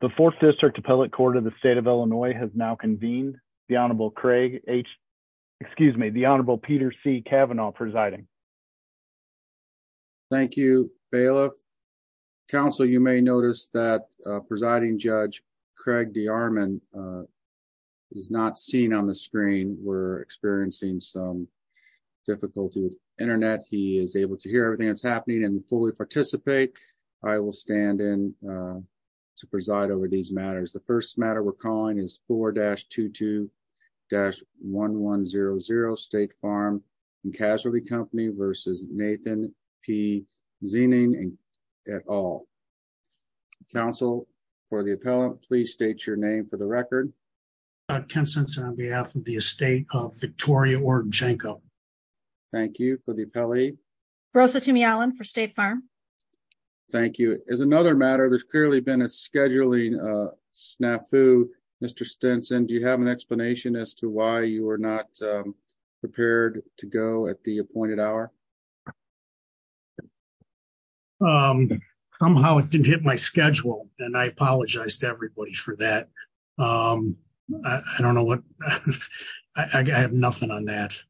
The 4th District Appellate Court of the State of Illinois has now convened. The Honorable Craig H. Excuse me, the Honorable Peter C. Kavanaugh presiding. Thank you. Bailiff. Counsel, you may notice that presiding judge Craig D. Arman is not seen on the screen. We're experiencing some difficulty with internet. He is able to hear everything that's happening and fully participate. I will stand in to preside over these matters. The first matter we're calling is 4-22-1100 State Farm and Casualty Company versus Nathan P. Ziening et al. Counsel for the appellant, please state your name for the record. Ken Simpson on behalf of the estate of Victoria Odarczenko. Thank you for the appellate. Rosa Tumey Allen for State Farm. Thank you. As another matter, there's clearly been a scheduling snafu. Mr. Stinson, do you have an explanation as to why you are not prepared to go at the appointed hour? Somehow it didn't hit my schedule, and I apologize to everybody for that. I don't know what I have nothing on that.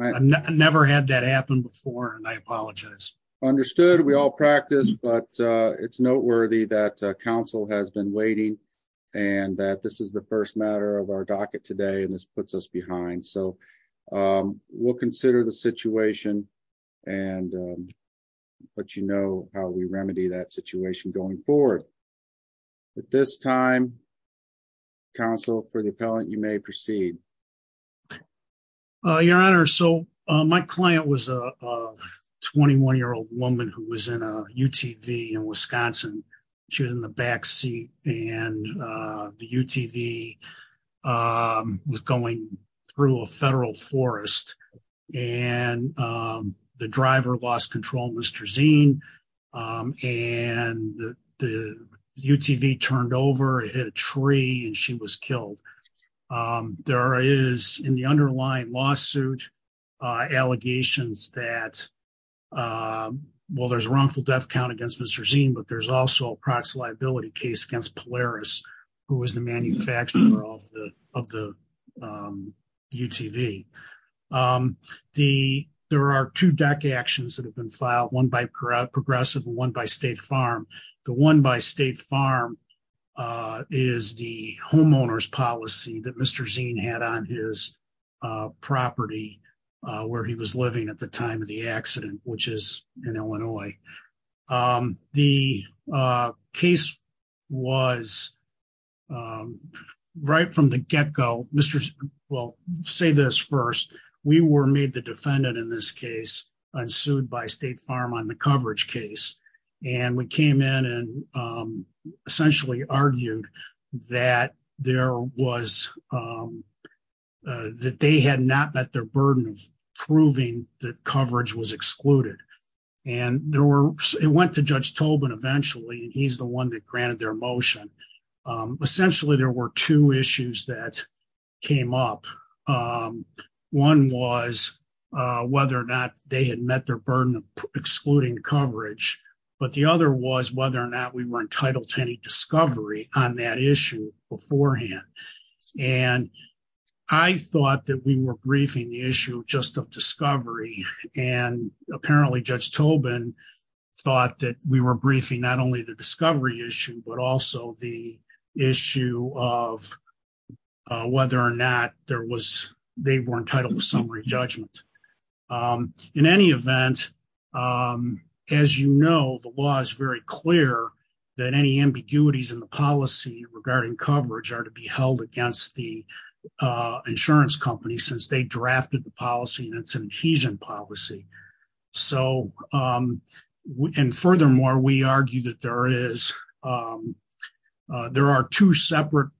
I never had that happen before, and I apologize. Understood. We all practice, but it's noteworthy that counsel has been waiting and that this is the first matter of our docket today, and this puts us behind. We'll consider the situation and let you know how we remedy that situation going forward. At this time, counsel for the appellant, you may proceed. Your Honor, so my client was a 21-year-old woman who was in a UTV in Wisconsin. She was in the back seat, and the UTV was going through a federal forest, and the driver lost control, Mr. Zien, and the UTV turned over, hit a tree, and she was killed. There is, in the underlying lawsuit, allegations that, well, there's a wrongful death count against Mr. Zien, but there's also a proxy liability case against Polaris, who was the manufacturer of the UTV. There are two DACA actions that have been filed, one by Progressive and one by State Farm. The one by State Farm is the homeowner's policy that Mr. Zien had on his property where he was living at the time of the accident, which is in Illinois. The case was, right from the get-go, well, say this first. We were made the defendant in this case and sued by State Farm on the coverage case, and we came in and essentially argued that they had not met their burden of proving that coverage was excluded. It went to Judge Tobin eventually, and he's the one that granted their motion. Essentially, there were two issues that came up. One was whether or not they had met their burden of excluding coverage, but the other was whether or not we were entitled to any discovery on that issue beforehand. I thought that we were briefing the issue just of discovery, and apparently Judge Tobin thought that we were briefing not only the discovery issue, but also the issue of whether or not they were entitled to summary judgment. In any event, as you know, the law is very clear that any ambiguities in the policy regarding coverage are to be held against the insurance company since they drafted the policy, and it's an adhesion policy. Furthermore, we argue that there are two separate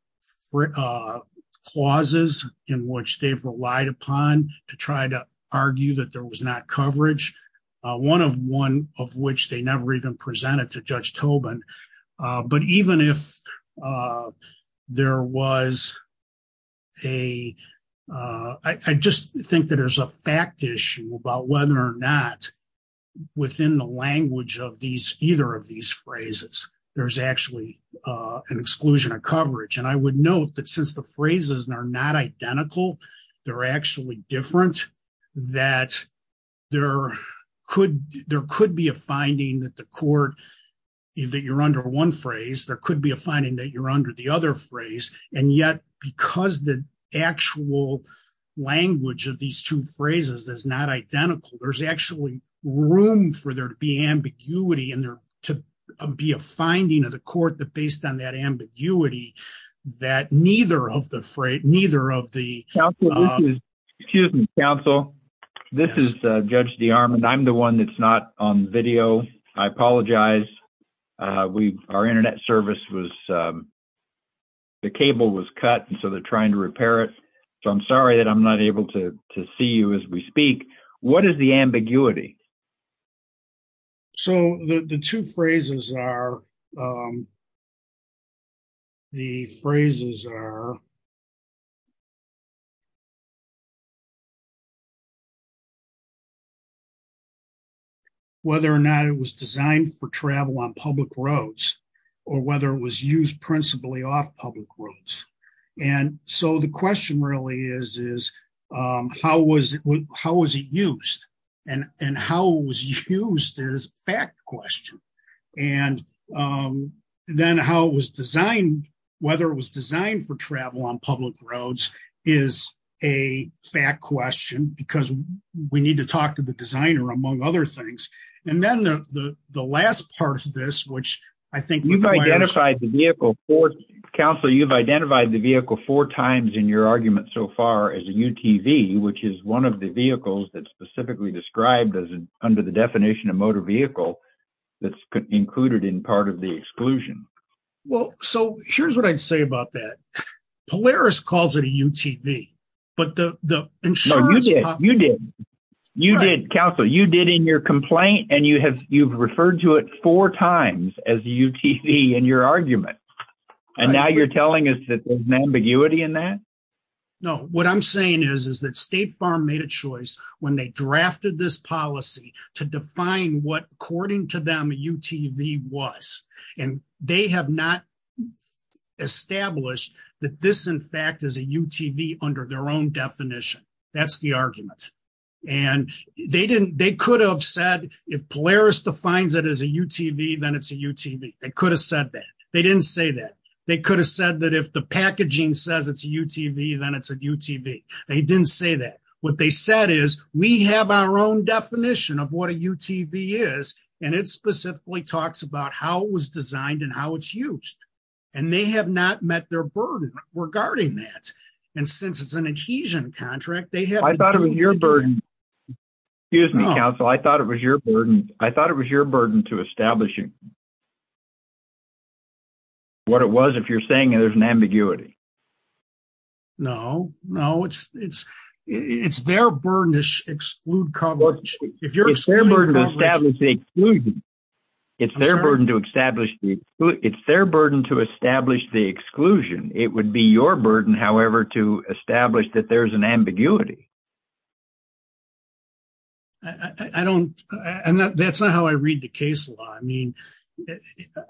clauses in which they've relied upon to try to argue that there was not coverage, one of which they never even presented to Judge within the language of either of these phrases. There's actually an exclusion of coverage, and I would note that since the phrases are not identical, they're actually different, that there could be a finding that you're under one phrase, there could be a finding that you're under the other phrase, and yet because the actual language of these two phrases is not identical, there's actually room for there to be ambiguity and there to be a finding of the court that based on that ambiguity that neither of the phrase, neither of the- Excuse me, counsel. This is Judge DeArmond. I'm the one that's not on video. I apologize. Our internet service was-the cable was cut, and so they're trying to repair it, so I'm sorry that I'm not able to see you as we speak. What is the ambiguity? So, the two phrases are-the phrases are-whether or not it was designed for travel on public roads or whether it was used principally off public roads. So, the question really is how was it used, and how it was used is a fact question, and then how it was designed, whether it was designed for travel on public roads is a fact question because we need to talk to the designer, among other things. And then the last part of this, which I think- You've identified the vehicle four-counsel, you've identified the vehicle four times in your argument so far as a UTV, which is one of the vehicles that's specifically described as under the definition of motor vehicle that's included in part of the exclusion. Well, so here's what I'd say about that. Polaris calls it a UTV, but the insurance- No, you did. You did. You did, counsel. So, you did in your complaint, and you've referred to it four times as a UTV in your argument, and now you're telling us that there's an ambiguity in that? No, what I'm saying is that State Farm made a choice when they drafted this policy to define what, according to them, a UTV was, and they have not established that this, in fact, is a UTV under their own definition. That's the argument. They could have said, if Polaris defines it as a UTV, then it's a UTV. They could have said that. They didn't say that. They could have said that if the packaging says it's a UTV, then it's a UTV. They didn't say that. What they said is, we have our own definition of what a UTV is, and it specifically talks about how it was designed and how it's used, and they have not met their burden regarding that, and since it's an adhesion contract, they have- I thought it was your burden. Excuse me, counsel. I thought it was your burden. I thought it was your burden to establish what it was if you're saying there's an ambiguity. No, no. It's their burden to exclude coverage. If you're excluding coverage- It's their burden to establish the exclusion. I'm sorry? It's their burden to establish the exclusion. It would be your burden, however, to establish that there's an ambiguity. I don't- that's not how I read the case law. I mean,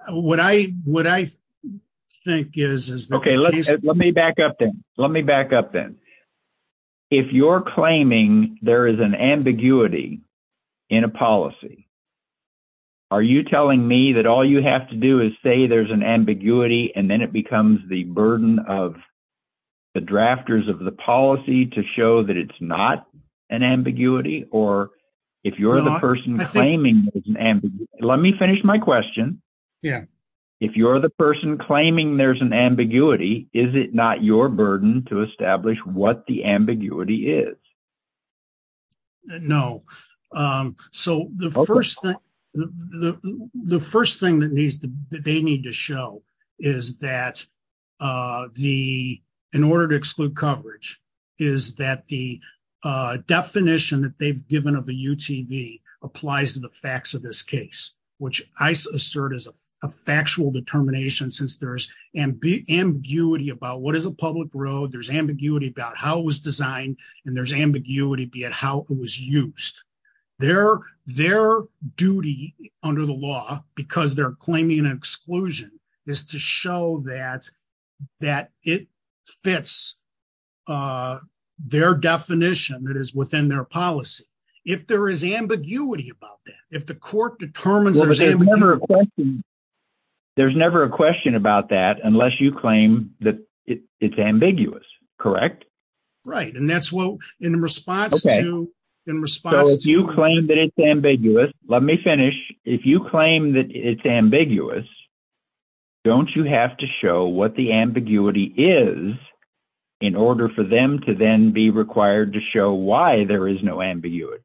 what I think is- Okay, let me back up then. Let me back up then. If you're claiming there is an ambiguity in a policy, are you telling me that all you have to do is say there's an ambiguity, and then it becomes the burden of the drafters of the policy to show that it's not an ambiguity? Or if you're the person claiming there's an ambiguity- No, I think- Let me finish my question. Yeah. If you're the person claiming there's an ambiguity, is it not your burden to establish what the ambiguity is? No. So, the first thing that they need to show is that in order to exclude coverage is that the definition that they've given of a UTV applies to the facts of this case, which I assert is a factual determination since there's ambiguity about what is a public road, there's ambiguity be it how it was used. Their duty under the law, because they're claiming an exclusion, is to show that it fits their definition that is within their policy. If there is ambiguity about that, if the court determines there's ambiguity- There's never a question about that unless you claim that it's ambiguous, correct? Right. And that's what in response to- Okay. In response to- So, if you claim that it's ambiguous, let me finish. If you claim that it's ambiguous, don't you have to show what the ambiguity is in order for them to then be required to show why there is no ambiguity?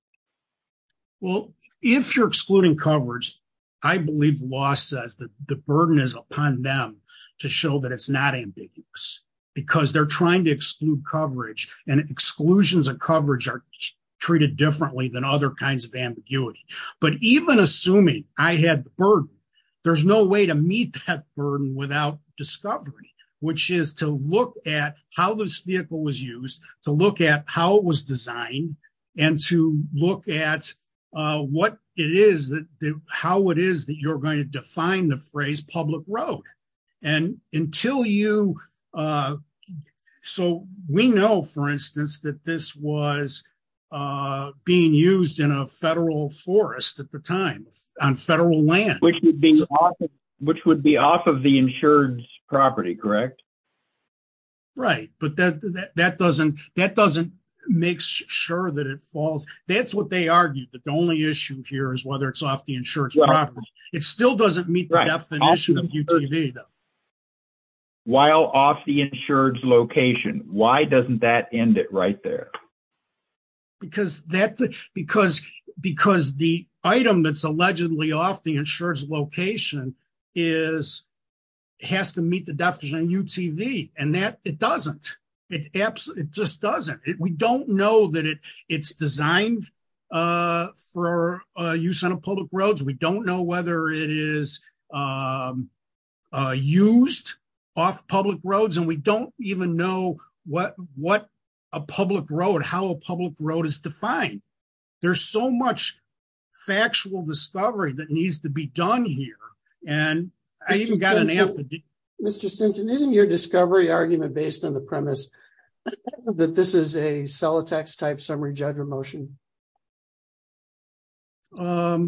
Well, if you're excluding coverage, I believe the law says that the burden is upon them to show that it's not ambiguous because they're trying to exclude coverage and exclusions of coverage are treated differently than other kinds of ambiguity. But even assuming I had the burden, there's no way to meet that burden without discovery, which is to look at how this vehicle was used, to look at how it was designed, and to look at how it is that you're going to define the phrase public road. And until you- So, we know, for instance, that this was being used in a federal forest at the time on federal land. Which would be off of the insured's property, correct? Right. But that doesn't make sure that it falls. That's what they argued, that the only issue here is whether it's off the insured's property. It still doesn't meet the definition of UTV, though. While off the insured's location. Why doesn't that end it right there? Because the item that's allegedly off the insured's location has to meet the definition of UTV, and it doesn't. It just doesn't. We don't know that it's designed for use on public roads. We don't know whether it is used off public roads. And we don't even know what a public road, how a public road is defined. There's so much factual discovery that needs to be done here. And I even got an affidavit. Mr. Stinson, isn't your discovery argument based on the premise that this is a Celotex-type summary judgment motion? I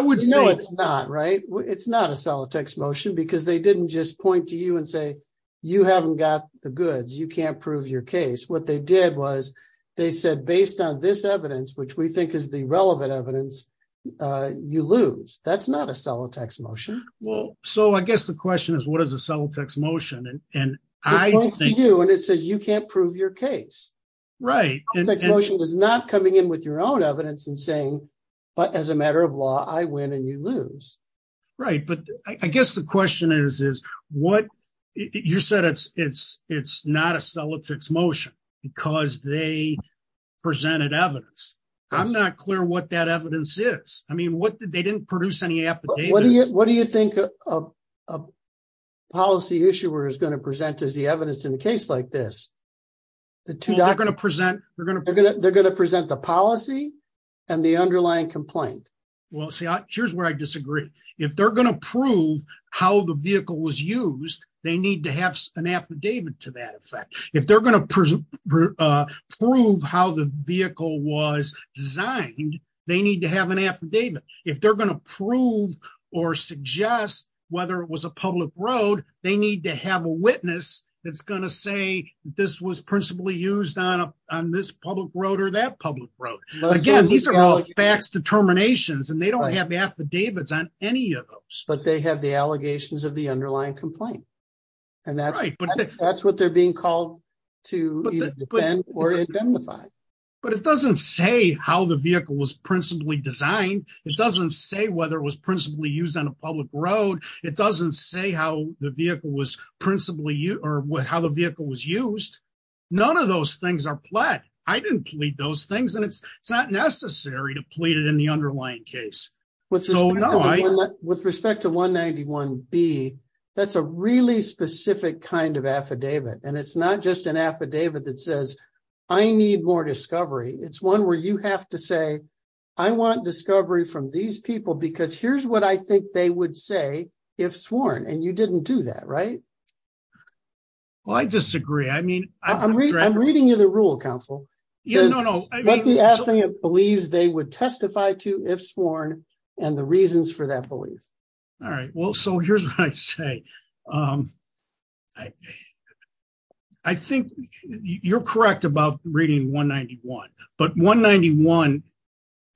would say- No, it's not, right? It's not a Celotex motion, because they didn't just point to you and say, you haven't got the goods. You can't prove your case. What they did was they said, based on this evidence, which we think is the relevant evidence, you lose. That's not a Celotex motion. Well, so I guess the question is, what is a Celotex motion? It points to you, and it says you can't prove your case. Right. Celotex motion is not coming in with your own evidence and saying, but as a matter of law, I win and you lose. Right. But I guess the question is, you said it's not a Celotex motion because they presented evidence. I'm not clear what that evidence is. I mean, they didn't produce any affidavits. What do you think a policy issuer is going to present as the evidence in a case like this? They're going to present the policy and the underlying complaint. Well, see, here's where I disagree. If they're going to prove how the vehicle was used, they need to have an affidavit to that effect. If they're going to prove how the vehicle was designed, they need to have an affidavit. If they're going to prove or suggest whether it was a public road, they need to have a witness that's going to say this was principally used on this public road or that public road. Again, these are all facts, determinations, and they don't have affidavits on any of those. But they have the allegations of the underlying complaint. And that's what they're being called to either defend or identify. But it doesn't say how the vehicle was principally designed. It doesn't say whether it was principally used on a public road. It doesn't say how the vehicle was principally used or how the vehicle was used. None of those things are pled. I didn't plead those things, and it's not necessary to plead it in the underlying case. So, no, I — With respect to 191B, that's a really specific kind of affidavit. And it's not just an affidavit that says, I need more discovery. It's one where you have to say, I want discovery from these people because here's what I think they would say if sworn. And you didn't do that, right? Well, I disagree. I'm reading you the rule, counsel. No, no. What the affidavit believes they would testify to if sworn and the reasons for that belief. All right. Well, so here's what I say. I think you're correct about reading 191. But 191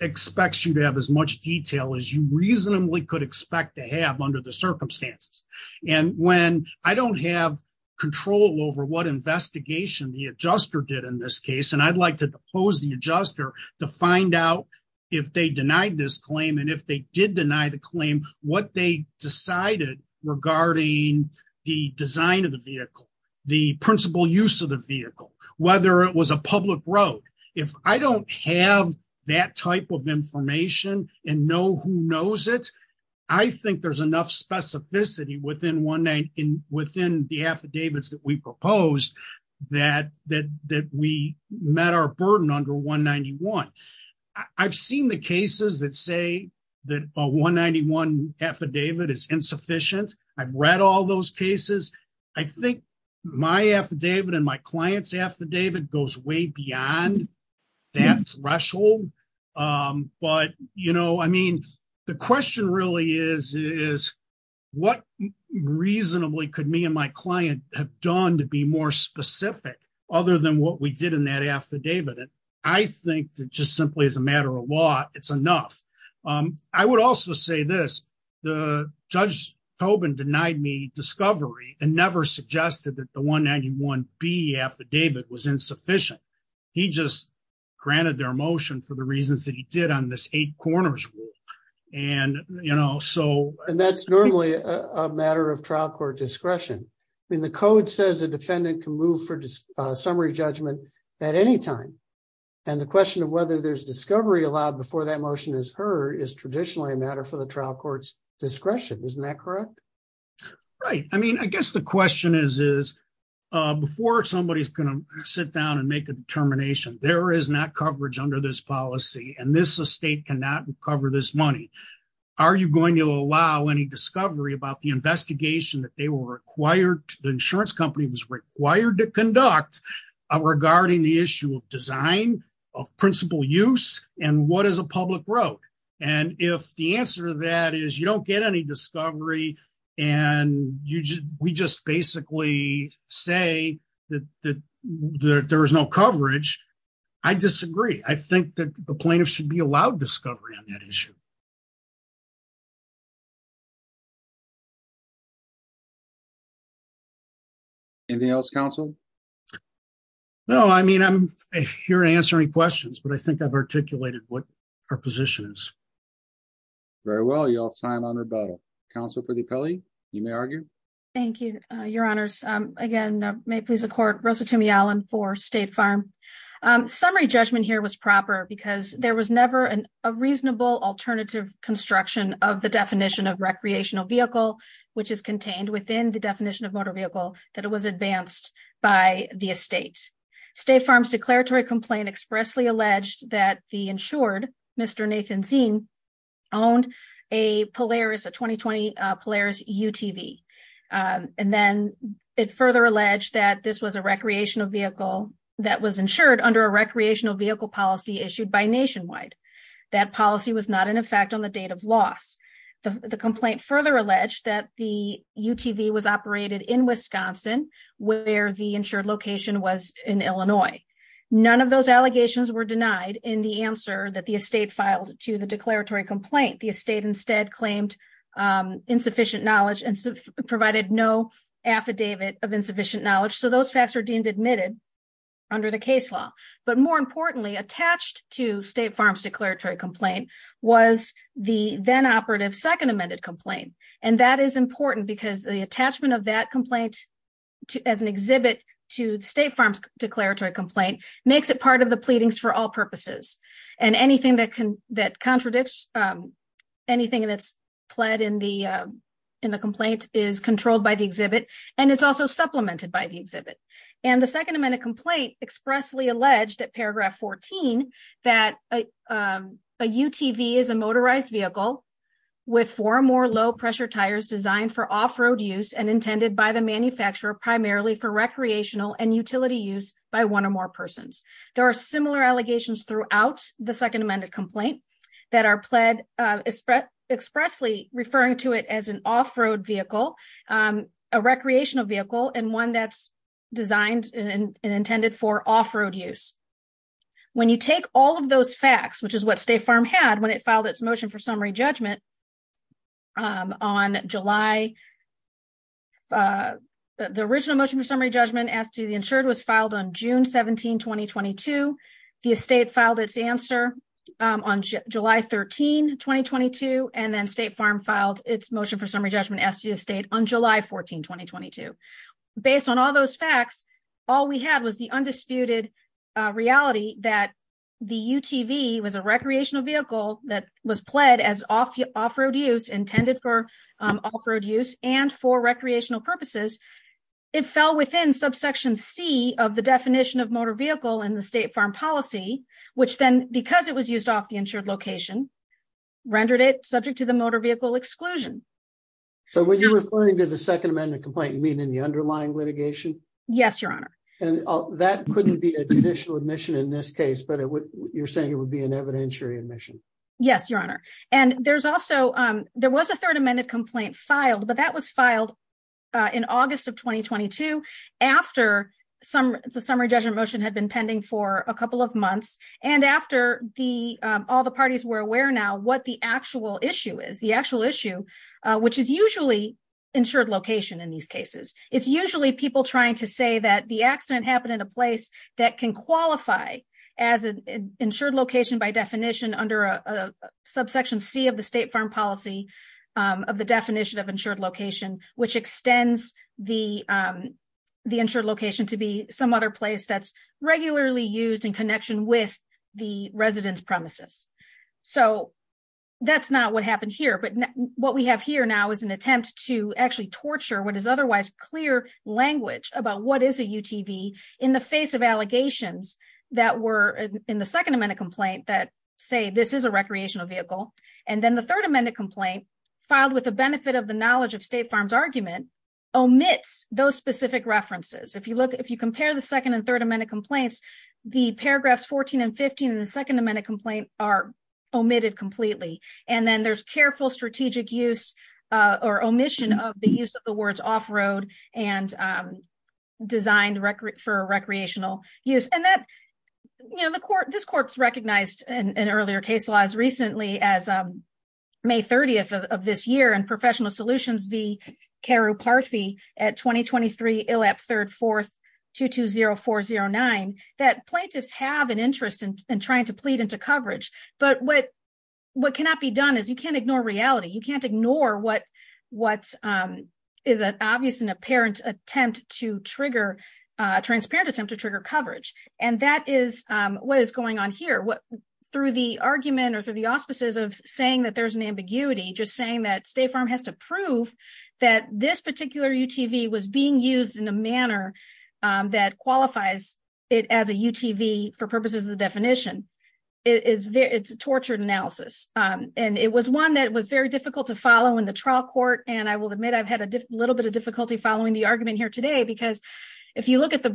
expects you to have as much detail as you reasonably could expect to have under the circumstances. And when I don't have control over what investigation the adjuster did in this case, and I'd like to depose the adjuster to find out if they denied this claim. And if they did deny the claim, what they decided regarding the design of the vehicle, the principal use of the vehicle, whether it was a public road. If I don't have that type of information and know who knows it, I think there's enough specificity within the affidavits that we proposed that we met our burden under 191. I've seen the cases that say that a 191 affidavit is insufficient. I've read all those cases. I think my affidavit and my client's affidavit goes way beyond that threshold. But, you know, I mean, the question really is, is what reasonably could me and my client have done to be more specific, other than what we did in that affidavit. I think that just simply as a matter of law, it's enough. I would also say this, the judge Tobin denied me discovery and never suggested that the 191B affidavit was insufficient. He just granted their motion for the reasons that he did on this eight corners rule. And, you know, so, and that's normally a matter of trial court discretion. I mean, the code says a defendant can move for summary judgment at any time. And the question of whether there's discovery allowed before that motion is heard is traditionally a matter for the trial court's discretion. Isn't that correct? Right. I mean, I guess the question is, is before somebody is going to sit down and make a determination, there is not coverage under this policy. And this state cannot recover this money. Are you going to allow any discovery about the investigation that they were required? The insurance company was required to conduct regarding the issue of design of principal use and what is a public road? And if the answer to that is you don't get any discovery and we just basically say that there is no coverage, I disagree. I think that the plaintiff should be allowed discovery on that issue. Anything else, counsel? No, I mean, I'm here to answer any questions, but I think I've articulated what our position is. Very well, y'all time on rebuttal. Counsel for the appellee. You may argue. Thank you, Your Honors. Again, may it please the court. Rosa Toomey Allen for State Farm. Summary judgment here was proper because there was never a reasonable alternative construction of the definition of recreational vehicle, which is contained within the definition of motor vehicle that it was advanced by the estate. State Farm's declaratory complaint expressly alleged that the insured Mr. recreational vehicle that was insured under a recreational vehicle policy issued by Nationwide. That policy was not in effect on the date of loss. The complaint further alleged that the UTV was operated in Wisconsin, where the insured location was in Illinois. None of those allegations were denied in the answer that the estate filed to the declaratory complaint. The estate instead claimed insufficient knowledge and provided no affidavit of insufficient knowledge. So those facts are deemed admitted under the case law. But more importantly, attached to State Farm's declaratory complaint was the then operative second amended complaint. And that is important because the attachment of that complaint as an exhibit to State Farm's declaratory complaint makes it part of the pleadings for all purposes. And anything that can that contradicts anything that's pled in the in the complaint is controlled by the exhibit. And it's also supplemented by the exhibit. And the second amendment complaint expressly alleged at paragraph 14, that a UTV is a motorized vehicle with four or more low pressure tires designed for off road use and intended by the manufacturer, primarily for recreational and utility use by one or more persons. There are similar allegations throughout the second amended complaint that are pled expressly referring to it as an off road vehicle, a recreational vehicle and one that's designed and intended for off road use. When you take all of those facts, which is what State Farm had when it filed its motion for summary judgment on July. The original motion for summary judgment as to the insured was filed on June 17, 2022. The estate filed its answer on July 13, 2022, and then State Farm filed its motion for summary judgment as to the state on July 14, 2022. Based on all those facts, all we had was the undisputed reality that the UTV was a recreational vehicle that was pled as off off road use intended for off road use and for recreational purposes. It fell within subsection C of the definition of motor vehicle in the State Farm policy, which then because it was used off the insured location rendered it subject to the motor vehicle exclusion. So when you're referring to the second amendment complaint, you mean in the underlying litigation? Yes, your honor. And that couldn't be a judicial admission in this case, but you're saying it would be an evidentiary admission. Yes, your honor. And there's also there was a third amendment complaint filed, but that was filed in August of 2022. After the summary judgment motion had been pending for a couple of months, and after all the parties were aware now what the actual issue is, the actual issue, which is usually insured location in these cases. It's usually people trying to say that the accident happened in a place that can qualify as an insured location by definition under a subsection C of the State Farm policy of the definition of insured location, which extends the insured location to be some other place that's regularly used in connection with the residence premises. So that's not what happened here. But what we have here now is an attempt to actually torture what is otherwise clear language about what is a UTV in the face of allegations that were in the second amendment complaint that say this is a recreational vehicle. And then the third amendment complaint filed with the benefit of the knowledge of State Farm's argument omits those specific references if you look if you compare the second and third amendment complaints, the paragraphs 14 and 15 and the second amendment complaint are omitted completely. And then there's careful strategic use or omission of the use of the words off road and designed record for recreational use and that, you know, the court this courts recognized in earlier case laws recently as May 30 of this year and professional solutions the care of party at 2023 elap third fourth to 20409 that plaintiffs have an interest in trying to plead into coverage, but what what cannot be done is you can't ignore reality you can't ignore what what is an obvious and apparent attempt to trigger transparent attempt to trigger coverage, and that is what is going on here what through the argument or through the auspices of saying that there's an ambiguity just saying that State Farm has to prove that this particular UTV was being used in a manner that qualifies it as a UTV for purposes of the definition is it's a tortured analysis, and it was one that was very difficult to follow in the trial court and I will admit I've had a little bit of difficulty following the argument here today because if you look at the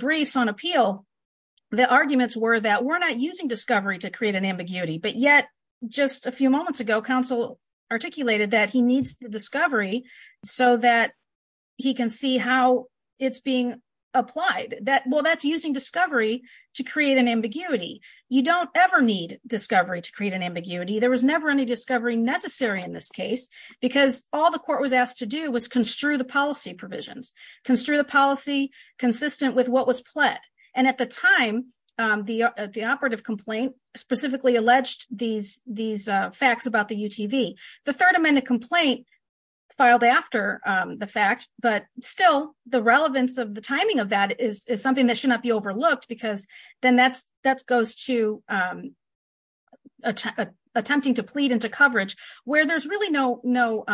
that well that's using discovery to create an ambiguity. You don't ever need discovery to create an ambiguity there was never any discovery necessary in this case, because all the court was asked to do was construe the policy provisions construe the policy consistent with what was pled, and at the time, the, the operative complaint, specifically alleged these these facts about the UTV, the third amendment complaint filed after the fact, but still the relevance of the timing of that is something that should not be overlooked because then that's that goes to attempting to plead into coverage, where there's really no, no.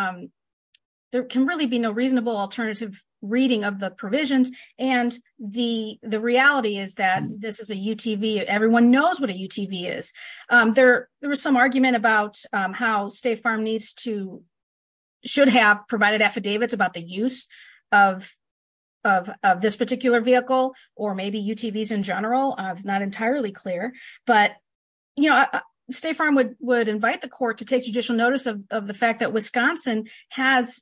There can really be no reasonable alternative reading of the provisions, and the, the reality is that this is a UTV everyone knows what a UTV is there, there was some argument about how State Farm needs to should have provided affidavits about the use of, of this particular vehicle, or maybe UTVs in general, I was not entirely clear, but, you know, State Farm would would invite the court to take judicial notice of the fact that Wisconsin has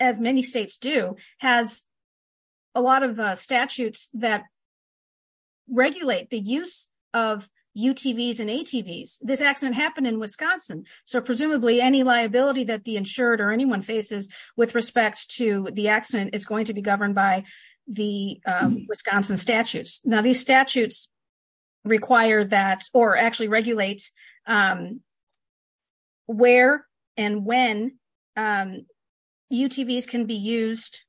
as many states do has a lot of statutes that regulate the use of UTVs and ATVs, this accident happened in Wisconsin. So presumably any liability that the insured or anyone faces with respect to the accident is going to be governed by the Wisconsin statutes. Now these statutes require that or actually regulate where and when UTVs can be used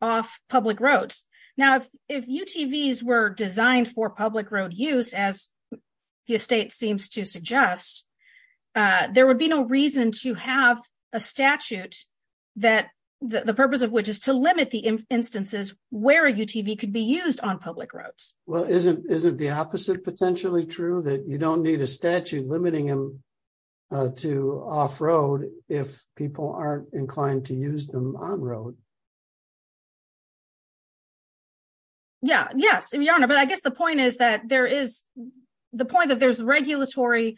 off public roads. Now, if UTVs were designed for public road use as the estate seems to suggest, there would be no reason to have a statute that the purpose of which is to limit the instances where a UTV could be used on public roads. Well, isn't, isn't the opposite potentially true that you don't need a statute limiting them to off road, if people aren't inclined to use them on road. Yeah, yes, Your Honor, but I guess the point is that there is the point that there's regulatory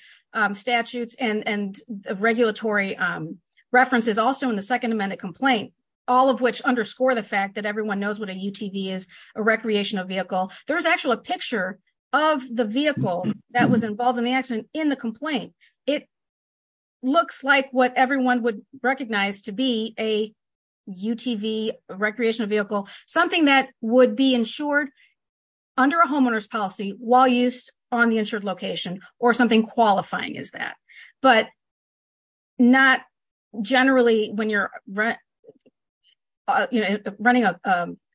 statutes and regulatory references also in the Second Amendment complaint, all of which underscore the fact that everyone knows what a UTV is a recreational vehicle. There's actually a picture of the vehicle that was involved in the accident in the complaint. It looks like what everyone would recognize to be a UTV recreational vehicle, something that would be insured under a homeowner's policy while used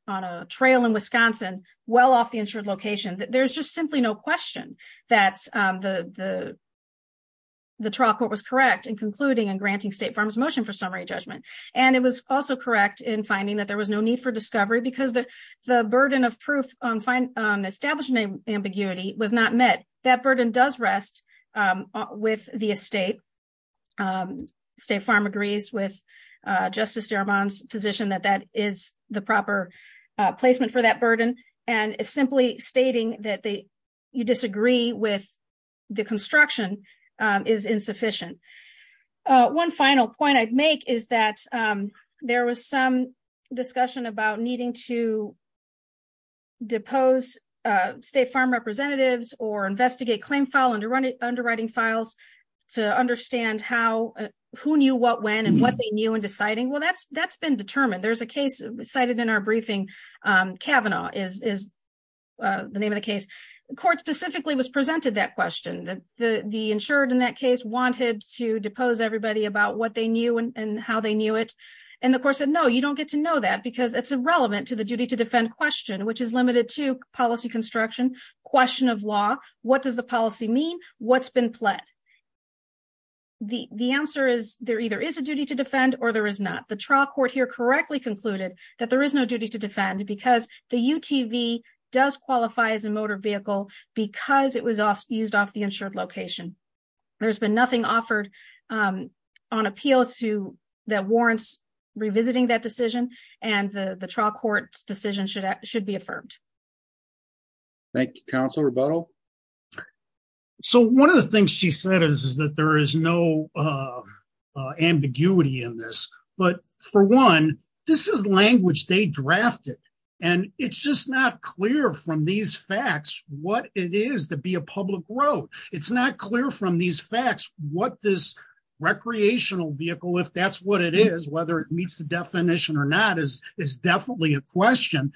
on the trail in Wisconsin, well off the insured location that there's just simply no question that the, the, the trial court was correct and concluding and granting State Farm's motion for summary judgment, and it was also correct in finding that there was no need for replacement for that burden, and it's simply stating that they, you disagree with the construction is insufficient. One final point I'd make is that there was some discussion about needing to depose State Farm representatives or investigate claim file underwriting files to understand how, who knew what when and what they knew and deciding well that's that's been determined there's a case cited in our briefing Kavanaugh is the name of the case, the court specifically was presented that question that the the insured in that case wanted to depose everybody about what they knew and how they knew it. And of course I know you don't get to know that because it's irrelevant to the duty to defend question which is limited to policy construction question of law, what does the policy mean what's been pled. The, the answer is, there either is a duty to defend or there is not the trial court here correctly concluded that there is no duty to defend because the UTV does qualify as a motor vehicle, because it was also used off the insured location. There's been nothing offered on appeal to that warrants revisiting that decision, and the trial court decision should should be affirmed. Thank you, Council rebuttal. So one of the things she said is that there is no ambiguity in this, but for one, this is language they drafted, and it's just not clear from these facts, what it is to be a public road, it's not clear from these facts, what this recreational vehicle if that's what it is whether it meets the definition or not is is definitely a question.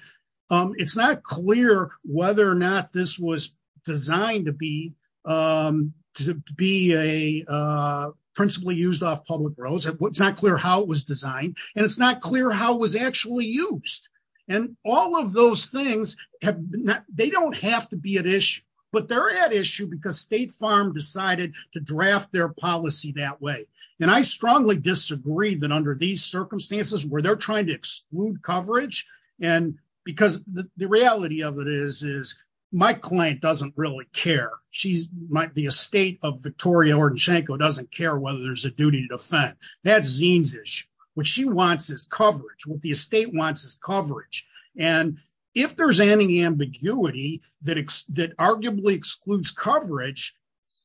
It's not clear whether or not this was designed to be to be a principally used off public roads and what's not clear how it was designed, and it's not clear how was actually used. And all of those things have been that they don't have to be an issue, but they're at issue because State Farm decided to draft their policy that way. And I strongly disagree that under these circumstances where they're trying to exclude coverage, and because the reality of it is, is my client doesn't really care. She's might be a state of Victoria or Janko doesn't care whether there's a duty to defend that zines is what she wants is coverage what the estate wants is coverage. And if there's any ambiguity that that arguably excludes coverage,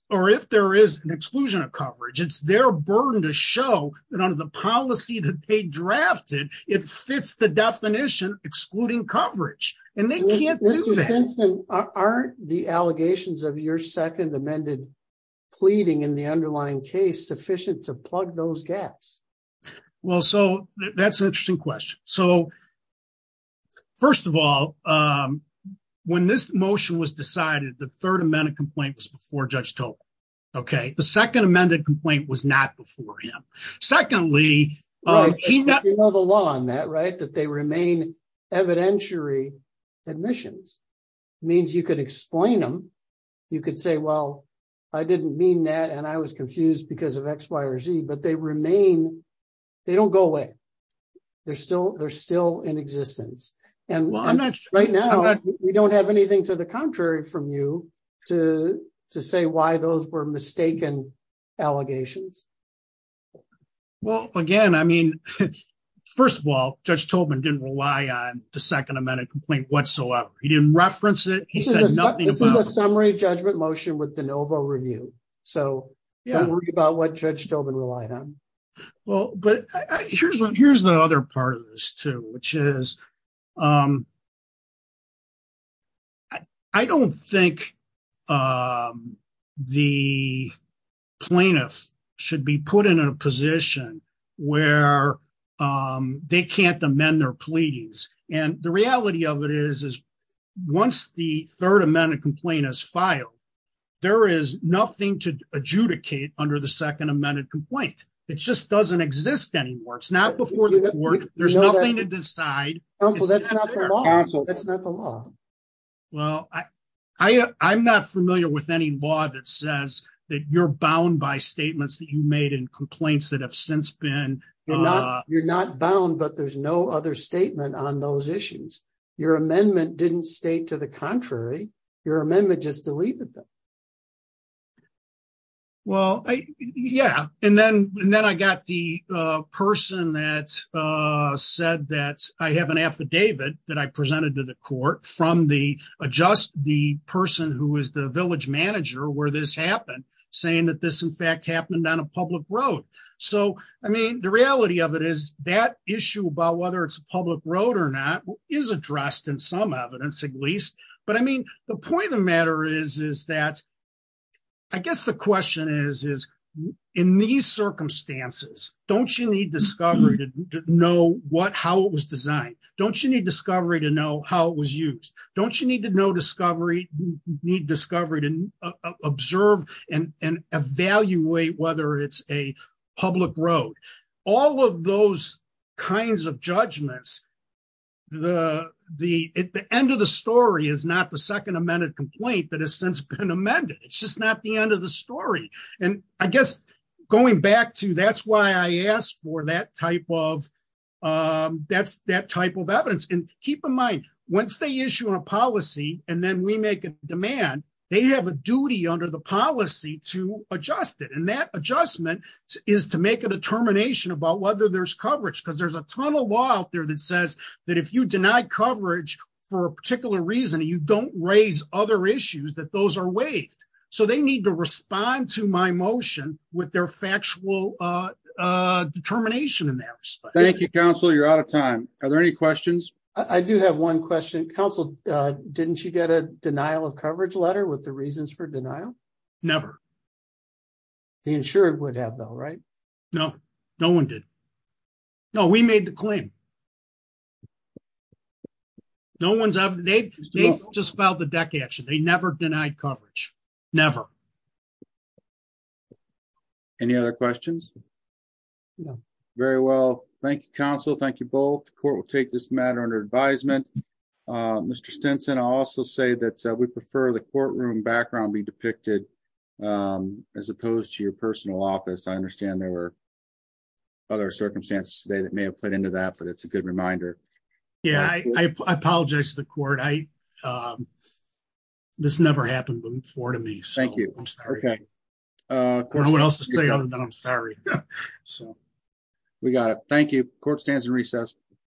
or if there is an exclusion of coverage it's their burden to show that under the policy that they drafted it fits the definition, excluding coverage, and they can't. Aren't the allegations of your second amended pleading in the underlying case sufficient to plug those gaps. Well, so that's an interesting question. So, first of all, when this motion was decided the third amendment complaint was before judge told. Okay, the second amended complaint was not before him. The law on that right that they remain evidentiary admissions means you could explain them. You could say, well, I didn't mean that and I was confused because of X, Y, or Z but they remain. They don't go away. They're still they're still in existence. And right now, we don't have anything to the contrary from you to to say why those were mistaken allegations. Well, again, I mean, first of all, just told me didn't rely on the second amendment complaint whatsoever. He didn't reference it. He said nothing. This is a summary judgment motion with the Nova review. So, yeah, I'm worried about what judge told me relied on. Well, but here's what here's the other part of this too, which is. I don't think the plaintiff should be put in a position where they can't amend their pleadings. And the reality of it is, is once the 3rd amendment complaint is filed. There is nothing to adjudicate under the 2nd amended complaint. It just doesn't exist anymore. It's not before the court. There's nothing to decide. That's not the law. Well, I, I, I'm not familiar with any law that says that you're bound by statements that you made in complaints that have since been. You're not bound, but there's no other statement on those issues. Your amendment didn't state to the contrary. Your amendment just deleted them. Well, yeah, and then, and then I got the person that said that I have an affidavit that I presented to the court from the adjust the person who is the village manager where this happened, saying that this in fact happened on a public road. So, I mean, the reality of it is that issue about whether it's a public road or not is addressed in some evidence, at least, but I mean, the point of the matter is, is that I guess the question is, is in these circumstances. Don't you need discovery to know what how it was designed. Don't you need discovery to know how it was used. Don't you need to know discovery need discovery to observe and evaluate whether it's a public road, all of those kinds of judgments. The, the end of the story is not the second amended complaint that has since been amended. It's just not the end of the story. And I guess, going back to that's why I asked for that type of that's that type of evidence and keep in mind, once they issue a policy, and then we make a demand. They have a duty under the policy to adjust it and that adjustment is to make a determination about whether there's coverage because there's a ton of law out there that says that if you deny coverage for a particular reason you don't raise other issues that those are waived. So they need to respond to my motion with their factual determination in that. Thank you counsel you're out of time. Are there any questions. I do have one question Council. Didn't you get a denial of coverage letter with the reasons for denial. Never. The insurance would have though right. No, no one did. No, we made the claim. No one's ever they just filed the deck action they never denied coverage. Never. Any other questions. Very well, thank you counsel. Thank you both the court will take this matter under advisement. Mr Stinson also say that we prefer the courtroom background be depicted, as opposed to your personal office I understand there were other circumstances today that may have put into that but it's a good reminder. Yeah, I apologize to the court I. This never happened before to me. Thank you. Okay. What else to say other than I'm sorry. So, we got it. Thank you, court stands and recess.